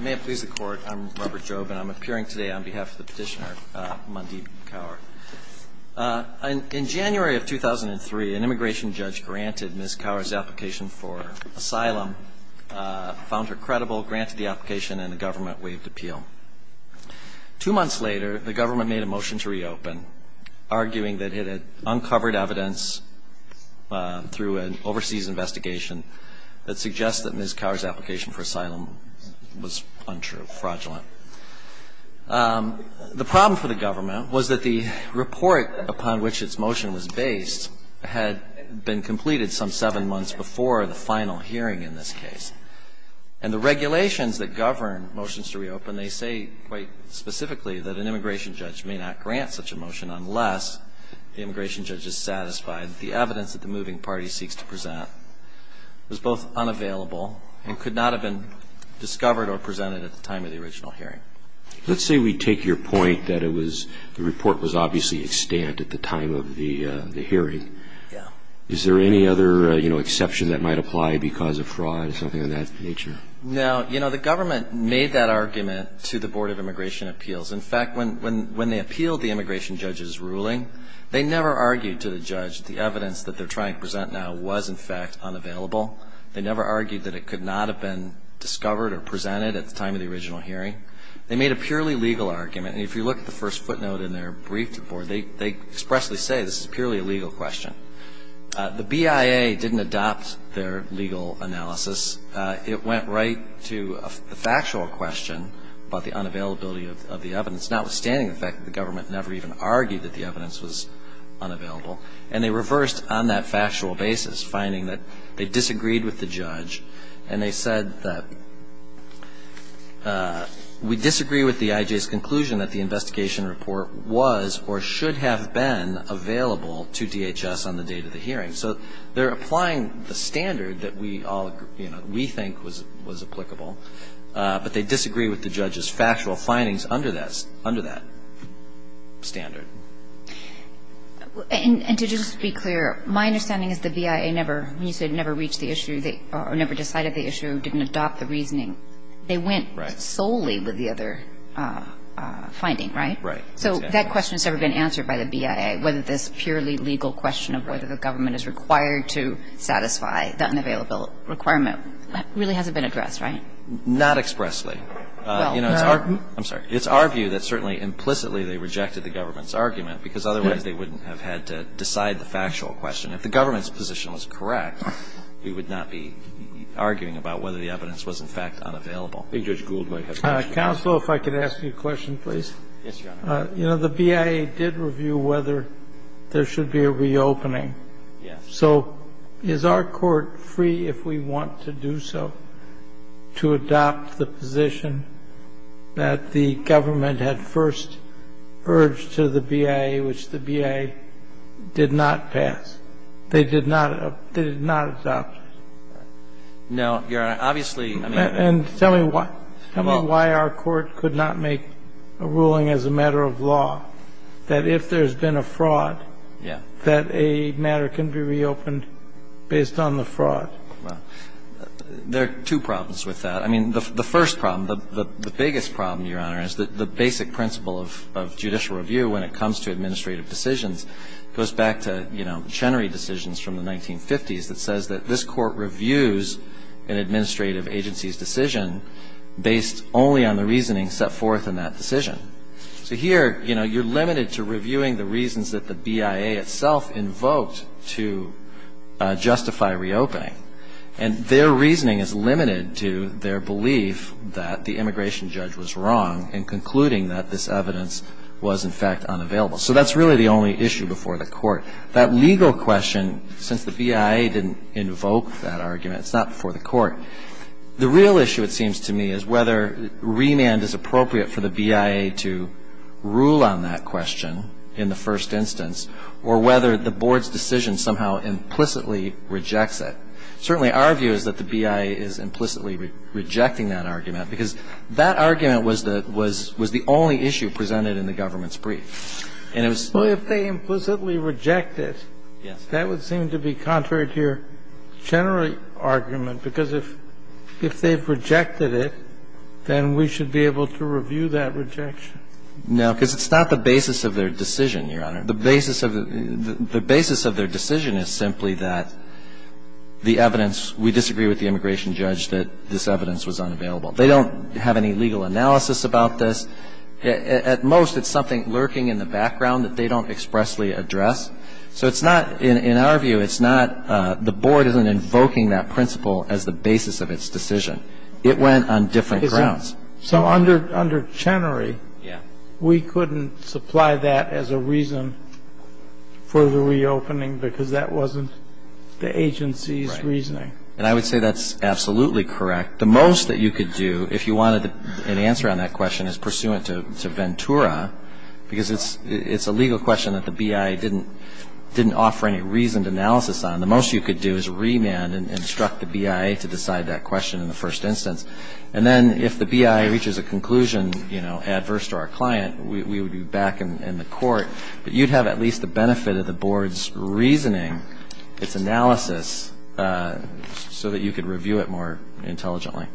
May it please the Court, I'm Robert Jobe, and I'm appearing today on behalf of the petitioner, Mandeep Kaur. In January of 2003, an immigration judge granted Ms. Kaur's application for asylum, found her credible, granted the application, and the government waived appeal. Two months later, the government made a motion to reopen, arguing that it had uncovered evidence through an overseas investigation that suggests that Ms. Kaur's application for asylum was untrue, fraudulent. The problem for the government was that the report upon which its motion was based had been completed some seven months before the final hearing in this case. And the regulations that govern motions to reopen, they say quite specifically that an immigration judge may not grant such a motion unless the immigration judge is satisfied that the evidence that the moving party seeks to present was both unavailable and could not have been discovered or presented at the time of the original hearing. Let's say we take your point that the report was obviously extant at the time of the hearing. Is there any other exception that might apply because of fraud or something of that nature? No. The government made that argument to the Board of Immigration Appeals. In fact, when they appealed the immigration judge's ruling, they never argued to the judge that the evidence that they're trying to present now was, in fact, unavailable. They never argued that it could not have been discovered or presented at the time of the original hearing. They made a purely legal argument, and if you look at the first footnote in their brief to the Board, they expressly say this is purely a legal question. The BIA didn't adopt their legal analysis. It went right to a factual question about the unavailability of the evidence, notwithstanding the fact that the government never even argued that the evidence was unavailable. And they reversed on that factual basis, finding that they disagreed with the judge, and they said that we disagree with the IJ's conclusion that the investigation report was or should have been available to DHS on the date of the hearing. So they're applying the standard that we all, you know, we think was applicable, but they disagree with the judge's factual findings under that standard. And to just be clear, my understanding is the BIA never, when you said never reached the issue, they never decided the issue, didn't adopt the reasoning. They went solely with the other finding, right? Right. So that question has never been answered by the BIA, whether this purely legal question of whether the government is required to satisfy the unavailable requirement really hasn't been addressed, right? Not expressly. Well, I'm sorry. It's our view that certainly implicitly they rejected the government's argument, because otherwise they wouldn't have had to decide the factual question. If the government's position was correct, we would not be arguing about whether the evidence was in fact unavailable. I think Judge Gould might have a question. Counsel, if I could ask you a question, please. Yes, Your Honor. You know, the BIA did review whether there should be a reopening. Yes. So is our court free, if we want to do so, to adopt the position that the government had first urged to the BIA, which the BIA did not pass? They did not adopt it. No, Your Honor. And tell me why our court could not make a ruling as a matter of law that if there's been a fraud, that a matter can be reopened based on the fraud? Well, there are two problems with that. I mean, the first problem, the biggest problem, Your Honor, is that the basic principle of judicial review when it comes to administrative decisions goes back to Chenery decisions from the 1950s that says that this court reviews an administrative agency's decision based only on the reasoning set forth in that decision. So here, you know, you're limited to reviewing the reasons that the BIA itself invoked to justify reopening. And their reasoning is limited to their belief that the immigration judge was wrong in concluding that this evidence was in fact unavailable. So that's really the only issue before the court. That legal question, since the BIA didn't invoke that argument, it's not before the court, the real issue, it seems to me, is whether remand is appropriate for the BIA to rule on that question in the first instance or whether the board's decision somehow implicitly rejects it. Certainly our view is that the BIA is implicitly rejecting that argument because that argument was the only issue presented in the government's brief. And it was Well, if they implicitly reject it, that would seem to be contrary to your general argument because if they've rejected it, then we should be able to review that rejection. No, because it's not the basis of their decision, Your Honor. The basis of their decision is simply that the evidence we disagree with the immigration judge that this evidence was unavailable. They don't have any legal analysis about this. At most, it's something lurking in the background that they don't expressly address. So it's not, in our view, it's not the board isn't invoking that principle as the basis of its decision. It went on different grounds. So under Chenery, we couldn't supply that as a reason for the reopening because that wasn't the agency's reasoning. Right. And I would say that's absolutely correct. The most that you could do, if you wanted an answer on that question, is pursue it to Ventura because it's a legal question that the BIA didn't offer any reasoned analysis on. The most you could do is remand and instruct the BIA to decide that question in the first instance. And then if the BIA reaches a conclusion adverse to our client, we would be back in the court. But you'd have at least the benefit of the board's reasoning, its analysis, so that you could review it more intelligently.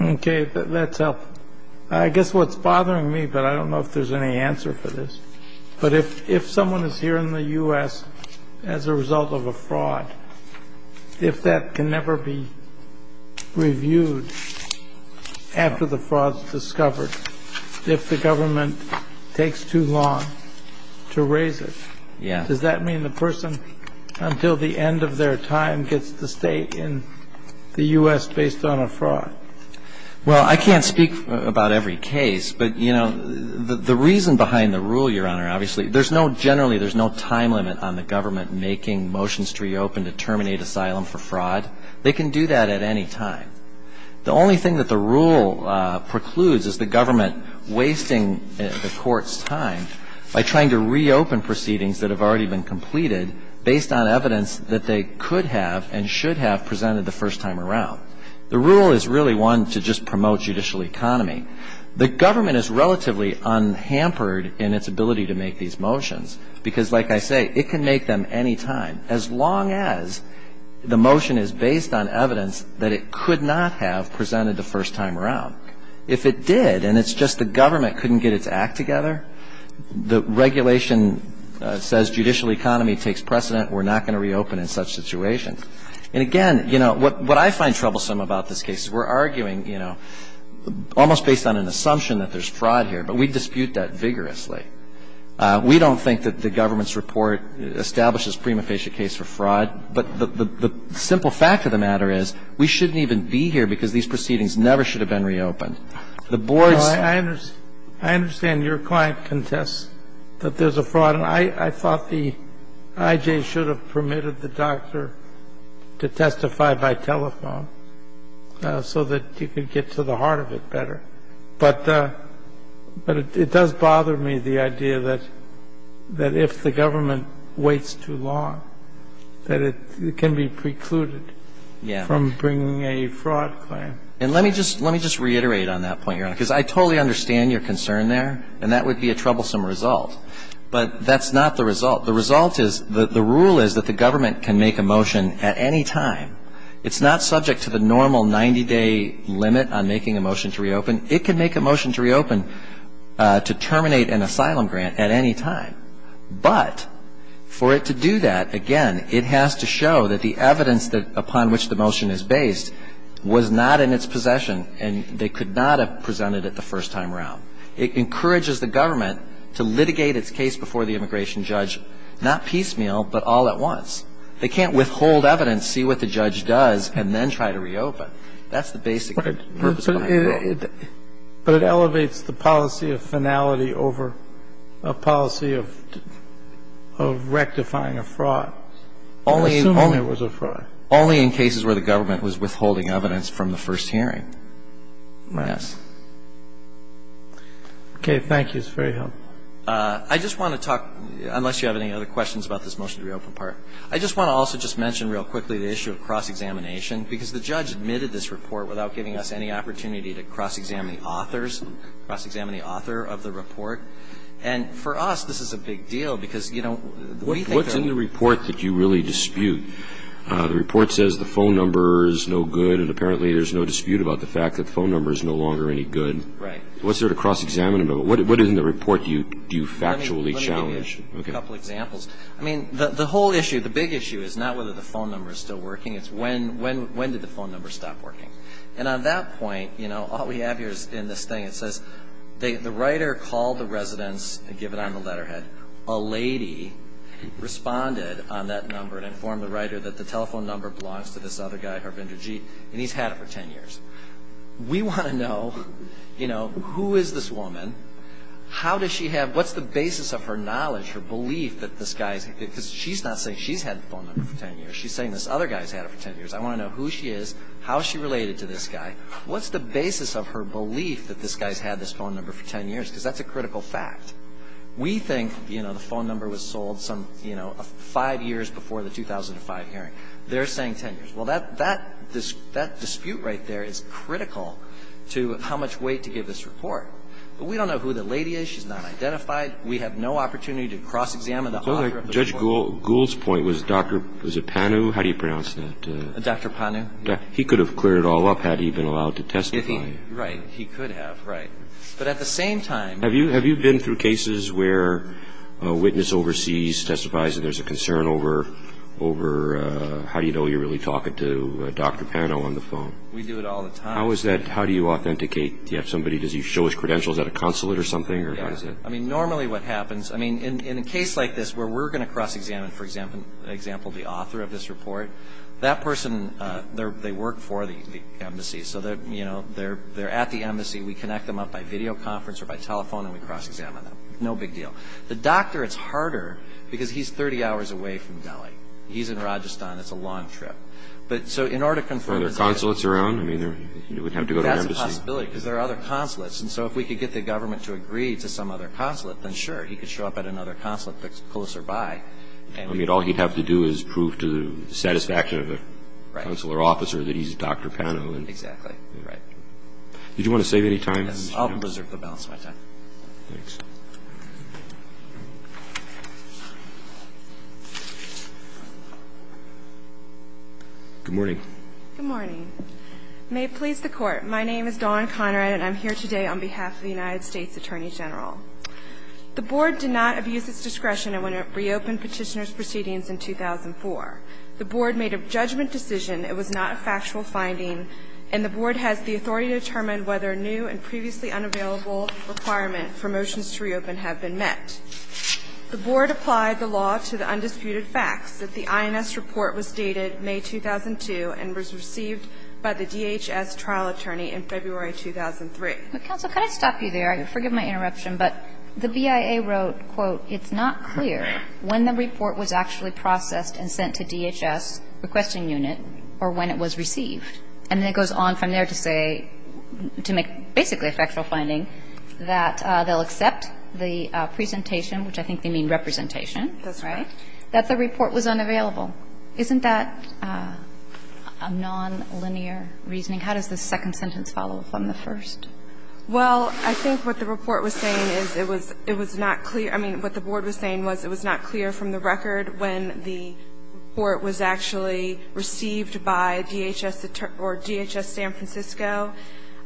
Okay. That's helpful. I guess what's bothering me, but I don't know if there's any answer for this, but if someone is here in the U.S. as a result of a fraud, if that can never be reviewed after the fraud is discovered, if the government takes too long to raise it, does that mean the person, until the end of their time, gets to stay in the U.S. based on a fraud? Well, I can't speak about every case. But the reason behind the rule, Your Honor, obviously, generally there's no time limit on the government making motions to reopen to terminate asylum for fraud. They can do that at any time. The only thing that the rule precludes is the government wasting the court's time by trying to reopen proceedings that have already been completed based on evidence that they could have and should have presented the first time around. The rule is really one to just promote judicial economy. The government is relatively unhampered in its ability to make these motions because, like I say, it can make them any time, as long as the motion is based on evidence that it could not have presented the first time around. If it did and it's just the government couldn't get its act together, the regulation says judicial economy takes precedent. We're not going to reopen in such situations. And, again, you know, what I find troublesome about this case is we're arguing, you know, almost based on an assumption that there's fraud here, but we dispute that vigorously. We don't think that the government's report establishes prima facie case for fraud. But the simple fact of the matter is we shouldn't even be here because these proceedings never should have been reopened. The board's ---- I understand your client contests that there's a fraud. And I thought the I.J. should have permitted the doctor to testify by telephone so that you could get to the heart of it better. But it does bother me, the idea that if the government waits too long, that it can be precluded from bringing a fraud claim. And let me just reiterate on that point, Your Honor, because I totally understand your concern there and that would be a troublesome result. But that's not the result. The result is that the rule is that the government can make a motion at any time. It's not subject to the normal 90-day limit on making a motion to reopen. It can make a motion to reopen to terminate an asylum grant at any time. But for it to do that, again, it has to show that the evidence upon which the motion is based was not in its possession and they could not have presented it the first time around. It encourages the government to litigate its case before the immigration judge, not piecemeal, but all at once. They can't withhold evidence, see what the judge does, and then try to reopen. That's the basic purpose of the rule. But it elevates the policy of finality over a policy of rectifying a fraud, assuming it was a fraud. Only in cases where the government was withholding evidence from the first hearing. Right. Yes. Okay. Thank you. It's very helpful. I just want to talk, unless you have any other questions about this motion to reopen part, I just want to also just mention real quickly the issue of cross-examination because the judge admitted this report without giving us any opportunity to cross-examine the authors, cross-examine the author of the report. And for us, this is a big deal because, you know, we think that What's in the report that you really dispute? The report says the phone number is no good and apparently there's no dispute about the fact that the phone number is no longer any good. Right. Was there a cross-examination? What in the report do you factually challenge? Let me give you a couple examples. I mean, the whole issue, the big issue is not whether the phone number is still working. It's when did the phone number stop working. And on that point, you know, all we have here is in this thing it says the writer called the residence and give it on the letterhead. A lady responded on that number and informed the writer that the telephone number belongs to this other guy, Harbinder Jeet, and he's had it for 10 years. We want to know, you know, who is this woman, how does she have, what's the basis of her knowledge, her belief that this guy, because she's not saying she's had the phone number for 10 years. She's saying this other guy's had it for 10 years. I want to know who she is, how is she related to this guy. What's the basis of her belief that this guy's had this phone number for 10 years, because that's a critical fact. We think, you know, the phone number was sold some, you know, five years before the 2005 hearing. They're saying 10 years. Well, that dispute right there is critical to how much weight to give this report. But we don't know who the lady is. She's not identified. We have no opportunity to cross-examine the author of the report. Judge Gould's point was Dr. Panu, how do you pronounce that? Dr. Panu. He could have cleared it all up had he been allowed to testify. Right, he could have, right. But at the same time. Have you been through cases where a witness overseas testifies and there's a concern over how do you know you're really talking to Dr. Panu on the phone? We do it all the time. How is that, how do you authenticate? Do you have somebody, does he show his credentials at a consulate or something? Yeah, I mean, normally what happens, I mean, in a case like this where we're going to cross-examine, for example, the author of this report, that person, they work for the embassy. So, you know, they're at the embassy. We connect them up by video conference or by telephone and we cross-examine them. No big deal. The doctor, it's harder because he's 30 hours away from Delhi. He's in Rajasthan. It's a long trip. But so in order to confirm. Are there consulates around? I mean, you would have to go to an embassy. That's a possibility because there are other consulates. And so if we could get the government to agree to some other consulate, then sure. He could show up at another consulate that's closer by. I mean, all he'd have to do is prove to the satisfaction of a consular officer that he's Dr. Pano. Exactly. Right. Did you want to save any time? I'll blizzard the balance of my time. Thanks. Good morning. Good morning. May it please the Court. My name is Dawn Conrad and I'm here today on behalf of the United States Attorney General. The Board did not abuse its discretion when it reopened Petitioner's proceedings in 2004. The Board made a judgment decision. It was not a factual finding. And the Board has the authority to determine whether new and previously unavailable requirement for motions to reopen have been met. The Board applied the law to the undisputed facts that the INS report was dated May 2002 and was received by the DHS trial attorney in February 2003. Counsel, could I stop you there? Sorry, forgive my interruption, but the BIA wrote, quote, It's not clear when the report was actually processed and sent to DHS requesting unit or when it was received. And then it goes on from there to say, to make basically a factual finding, that they'll accept the presentation, which I think they mean representation. That's right. That the report was unavailable. Isn't that a nonlinear reasoning? How does the second sentence follow from the first? Well, I think what the report was saying is it was not clear. I mean, what the Board was saying was it was not clear from the record when the report was actually received by DHS or DHS San Francisco.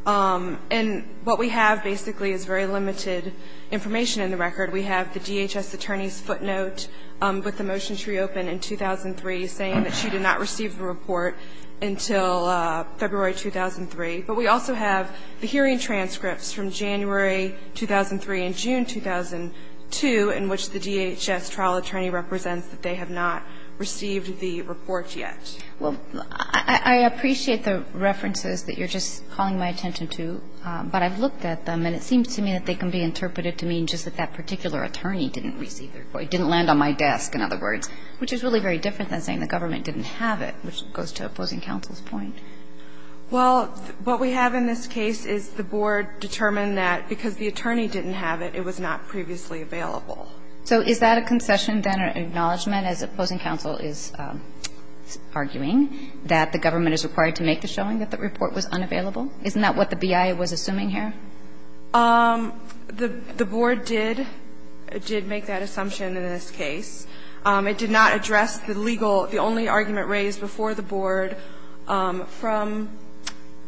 And what we have basically is very limited information in the record. We have the DHS attorney's footnote with the motion to reopen in 2003 saying that she did not receive the report until February 2003. But we also have the hearing transcripts from January 2003 and June 2002 in which the DHS trial attorney represents that they have not received the report yet. Well, I appreciate the references that you're just calling my attention to. But I've looked at them, and it seems to me that they can be interpreted to mean just that that particular attorney didn't receive their report, didn't land on my desk, in other words, which is really very different than saying the government didn't have it, which goes to opposing counsel's point. Well, what we have in this case is the Board determined that because the attorney didn't have it, it was not previously available. So is that a concession, then, or an acknowledgment as opposing counsel is arguing that the government is required to make the showing that the report was unavailable? Isn't that what the BIA was assuming here? The Board did make that assumption in this case. It did not address the legal, the only argument raised before the Board from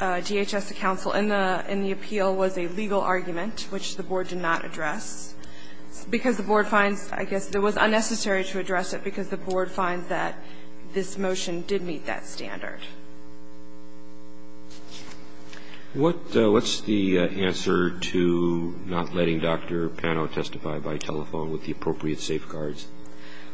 DHS to counsel in the appeal was a legal argument, which the Board did not address, because the Board finds, I guess, it was unnecessary to address it because the Board finds that this motion did meet that standard. What's the answer to not letting Dr. Pano testify by telephone with the appropriate safeguards?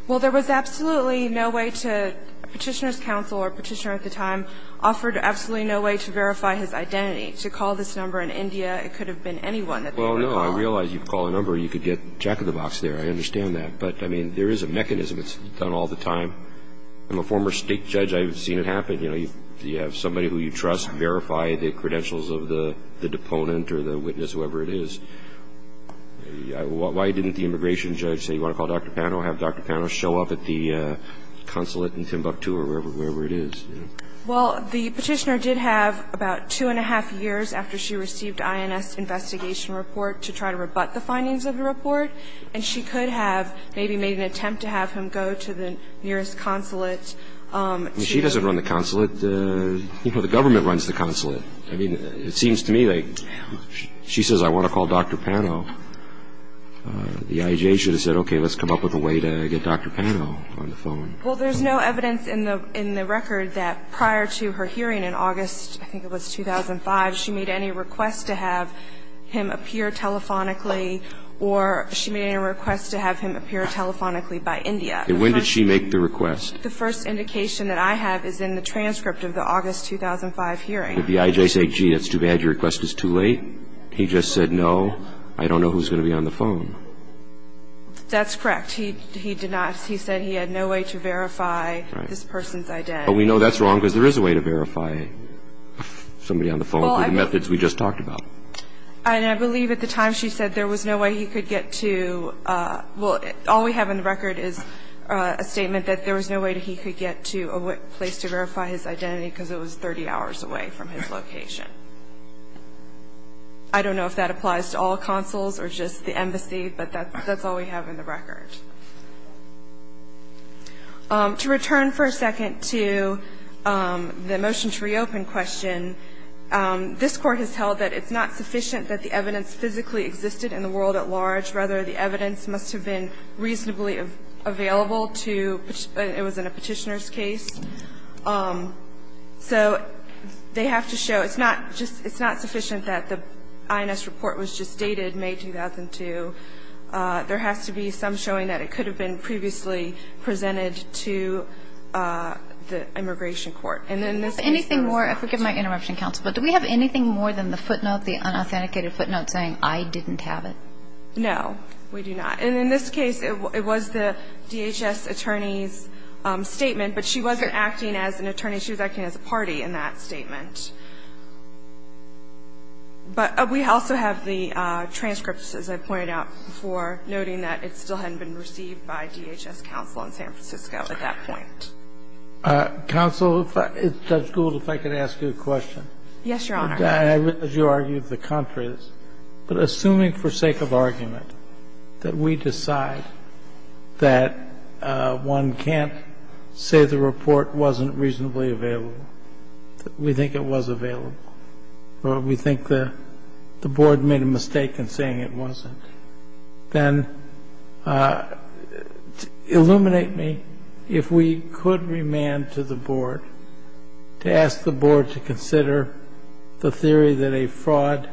Well, there was absolutely no way to, Petitioner's counsel or Petitioner at the time offered absolutely no way to verify his identity. To call this number in India, it could have been anyone that they would have called. Well, no. I realize if you call a number, you could get jack-of-the-box there. I understand that. But, I mean, there is a mechanism. It's done all the time. I'm a former State judge. I've seen it happen. You know, you have somebody who you trust verify the credentials of the deponent or the witness, whoever it is. Why didn't the immigration judge say, you want to call Dr. Pano, have Dr. Pano show up at the consulate in Timbuktu or wherever it is? Well, the Petitioner did have about two and a half years after she received INS investigation report to try to rebut the findings of the report, and she could have maybe made an attempt to have him go to the nearest consulate. She doesn't run the consulate. You know, the government runs the consulate. I mean, it seems to me like she says, I want to call Dr. Pano. The IJA should have said, okay, let's come up with a way to get Dr. Pano on the phone. Well, there's no evidence in the record that prior to her hearing in August, I think it was 2005, she made any request to have him appear telephonically or she made any request to have him appear telephonically by India. And when did she make the request? The first indication that I have is in the transcript of the August 2005 hearing. If the IJA said, gee, that's too bad, your request is too late, he just said, no, I don't know who's going to be on the phone. That's correct. He did not. He said he had no way to verify this person's identity. But we know that's wrong because there is a way to verify somebody on the phone through the methods we just talked about. And I believe at the time she said there was no way he could get to, well, all we have in the record is a statement that there was no way he could get to a place to verify his identity because it was 30 hours away from his location. I don't know if that applies to all consuls or just the embassy, but that's all we have in the record. To return for a second to the motion to reopen question, this Court has held that it's not sufficient that the evidence physically existed in the world at large. Rather, the evidence must have been reasonably available to the petitioner's case. So they have to show it's not just – it's not sufficient that the INS report was just dated May 2002. There has to be some showing that it could have been previously presented to the immigration court. And in this case – Do we have anything more? I forgive my interruption, Counsel. But do we have anything more than the footnote, the unauthenticated footnote saying I didn't have it? No, we do not. And in this case, it was the DHS attorney's statement, but she wasn't acting as an attorney. She was acting as a party in that statement. But we also have the transcripts, as I pointed out before, noting that it still hadn't been received by DHS counsel in San Francisco at that point. Counsel, if I – Judge Gould, if I could ask you a question. Yes, Your Honor. And I read that you argued the contrary. But assuming for sake of argument that we decide that one can't say the report wasn't reasonably available, that we think it was available, or we think the board made a mistake in saying it wasn't, then illuminate me if we could remand to the theory that a fraud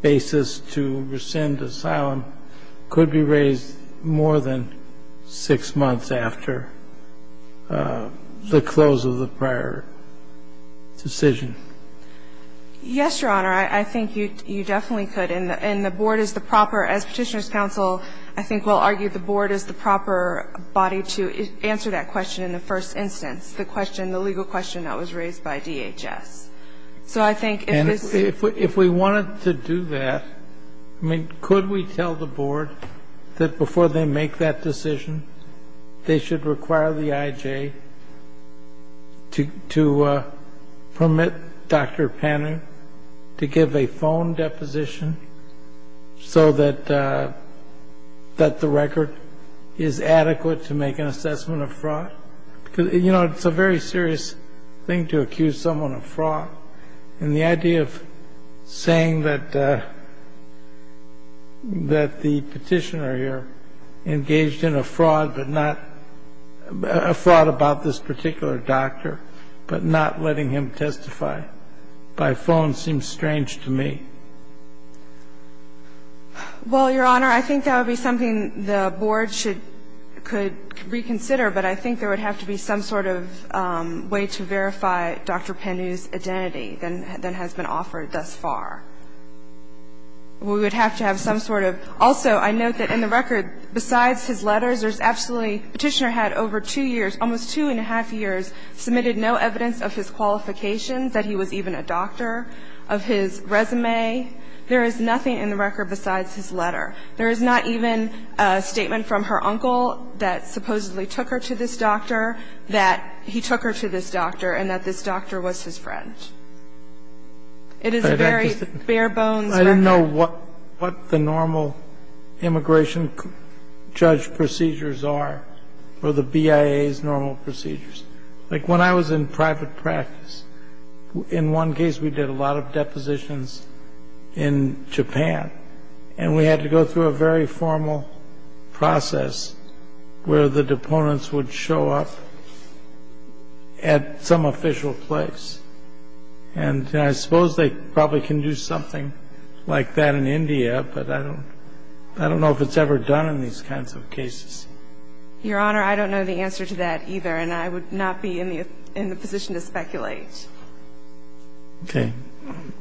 basis to rescind asylum could be raised more than six months after the close of the prior decision. Yes, Your Honor. I think you definitely could. And the board is the proper – as Petitioner's counsel, I think we'll argue the board is the proper body to answer that question in the first instance, the question that was raised by DHS. So I think if this – And if we wanted to do that, I mean, could we tell the board that before they make that decision, they should require the IJ to permit Dr. Panning to give a phone deposition so that the record is adequate to make an assessment of fraud? Because, you know, it's a very serious thing to accuse someone of fraud. And the idea of saying that the Petitioner here engaged in a fraud, but not – a fraud about this particular doctor, but not letting him testify by phone seems strange to me. Well, Your Honor, I think that would be something the board should – could reconsider, but I think there would have to be some sort of way to verify Dr. Pannu's identity than has been offered thus far. We would have to have some sort of – also, I note that in the record, besides his letters, there's absolutely – Petitioner had over two years, almost two and a half years, submitted no evidence of his qualifications, that he was even a doctor, of his resume. There is nothing in the record besides his letter. There is not even a statement from her uncle that supposedly took her to this doctor, that he took her to this doctor, and that this doctor was his friend. It is a very bare-bones record. I didn't know what the normal immigration judge procedures are or the BIA's normal procedures. Like, when I was in private practice, in one case we did a lot of depositions in Japan, and we had to go through a very formal process where the deponents would show up at some official place. And I suppose they probably can do something like that in India, but I don't know if it's ever done in these kinds of cases. Your Honor, I don't know the answer to that either, and I would not be in the position to speculate. Okay.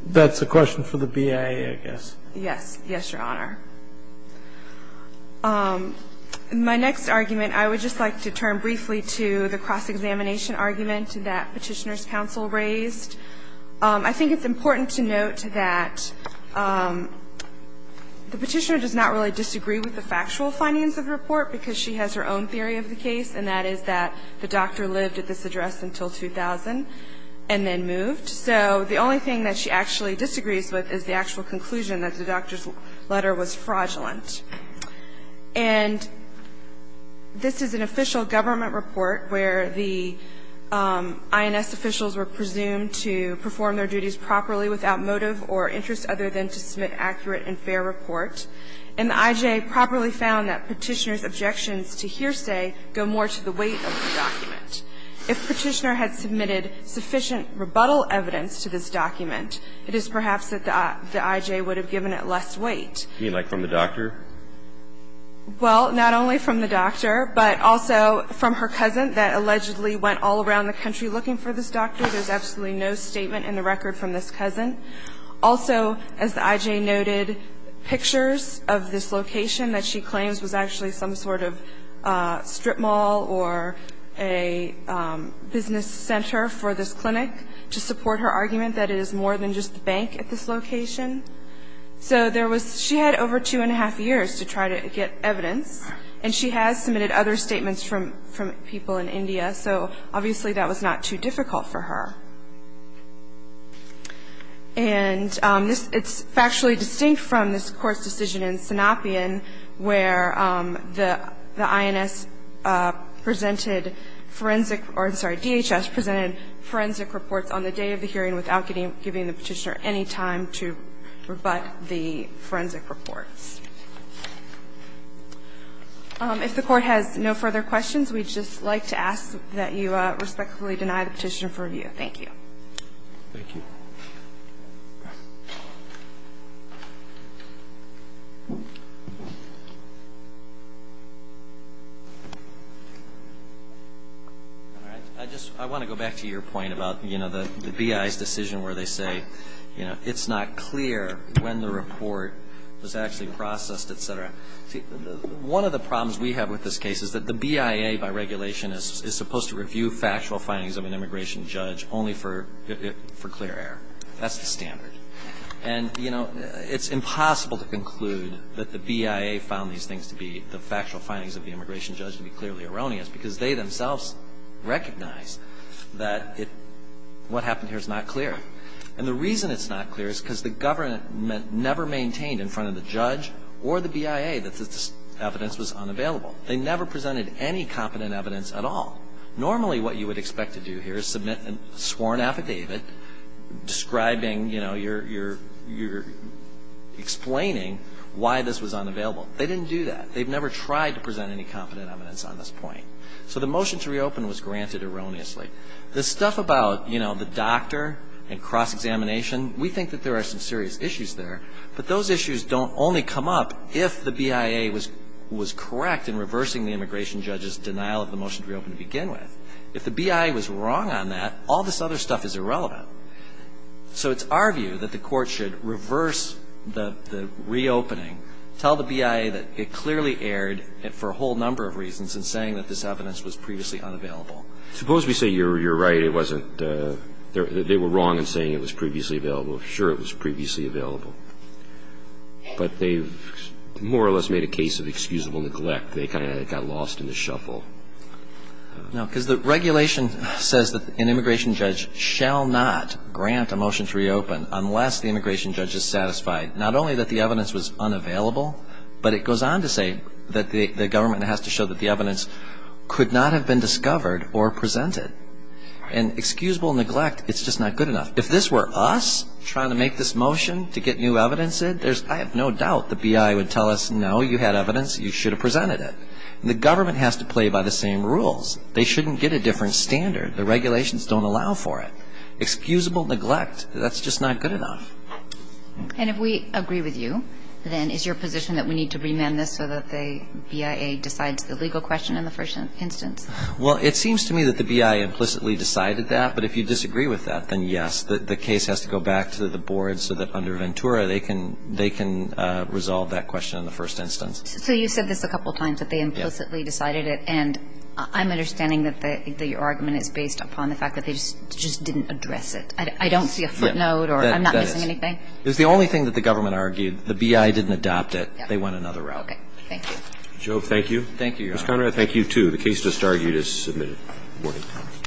That's a question for the BIA, I guess. Yes. Yes, Your Honor. My next argument, I would just like to turn briefly to the cross-examination argument that Petitioner's counsel raised. I think it's important to note that the Petitioner does not really disagree with the factual findings of the report because she has her own theory of the case, and that is that the doctor lived at this address until 2000 and then moved. So the only thing that she actually disagrees with is the actual conclusion that the doctor's letter was fraudulent. And this is an official government report where the INS officials were presumed to perform their duties properly without motive or interest other than to submit accurate and fair report. And the I.J. properly found that Petitioner's objections to hearsay go more to the weight of the document. If Petitioner had submitted sufficient rebuttal evidence to this document, it is perhaps that the I.J. would have given it less weight. You mean like from the doctor? Well, not only from the doctor, but also from her cousin that allegedly went all around the country looking for this doctor. There's absolutely no statement in the record from this cousin. Also, as the I.J. noted, pictures of this location that she claims was actually some sort of strip mall or a business center for this clinic to support her argument that it is more than just the bank at this location. So there was she had over two and a half years to try to get evidence, and she has submitted other statements from people in India. So obviously that was not too difficult for her. And it's factually distinct from this Court's decision in Sanapian where the INS presented forensic or, I'm sorry, DHS presented forensic reports on the day of the hearing without giving the Petitioner any time to rebut the forensic reports. If the Court has no further questions, we'd just like to ask that you respectfully deny the Petitioner for review. Thank you. Thank you. I want to go back to your point about the BIA's decision where they say it's not clear when the report was actually processed, et cetera. One of the problems we have with this case is that the BIA, by regulation, is supposed to review factual findings of an immigration judge only for clear error. That's the standard. And, you know, it's impossible to conclude that the BIA found these things to be the factual findings of the immigration judge to be clearly erroneous because they themselves recognize that what happened here is not clear. And the reason it's not clear is because the government never maintained in front of the judge or the BIA that this evidence was unavailable. They never presented any competent evidence at all. Normally what you would expect to do here is submit a sworn affidavit describing, you know, you're explaining why this was unavailable. They didn't do that. They've never tried to present any competent evidence on this point. So the motion to reopen was granted erroneously. The stuff about, you know, the doctor and cross-examination, we think that there are some serious issues there. But those issues don't only come up if the BIA was correct in reversing the immigration judge's denial of the motion to reopen to begin with. If the BIA was wrong on that, all this other stuff is irrelevant. So it's our view that the Court should reverse the reopening, tell the BIA that it clearly erred for a whole number of reasons in saying that this evidence was previously unavailable. Suppose we say you're right, it wasn't they were wrong in saying it was previously available. Well, sure, it was previously available. But they've more or less made a case of excusable neglect. They kind of got lost in the shuffle. No, because the regulation says that an immigration judge shall not grant a motion to reopen unless the immigration judge is satisfied not only that the evidence was unavailable, but it goes on to say that the government has to show that the evidence could not have been discovered or presented. And excusable neglect, it's just not good enough. If this were us trying to make this motion to get new evidence in, I have no doubt the BIA would tell us, no, you had evidence, you should have presented it. And the government has to play by the same rules. They shouldn't get a different standard. The regulations don't allow for it. Excusable neglect, that's just not good enough. And if we agree with you, then is your position that we need to remand this so that the BIA decides the legal question in the first instance? Well, it seems to me that the BIA implicitly decided that. But if you disagree with that, then, yes, the case has to go back to the board so that under Ventura they can resolve that question in the first instance. So you said this a couple of times, that they implicitly decided it. And I'm understanding that your argument is based upon the fact that they just didn't address it. I don't see a footnote or I'm not missing anything. That is. It's the only thing that the government argued. The BIA didn't adopt it. They went another route. Okay. Thank you. Jove, thank you. Thank you, Your Honor. Ms. Conrad, thank you, too. The case just argued is submitted. Thank you. Good morning, Your Honor.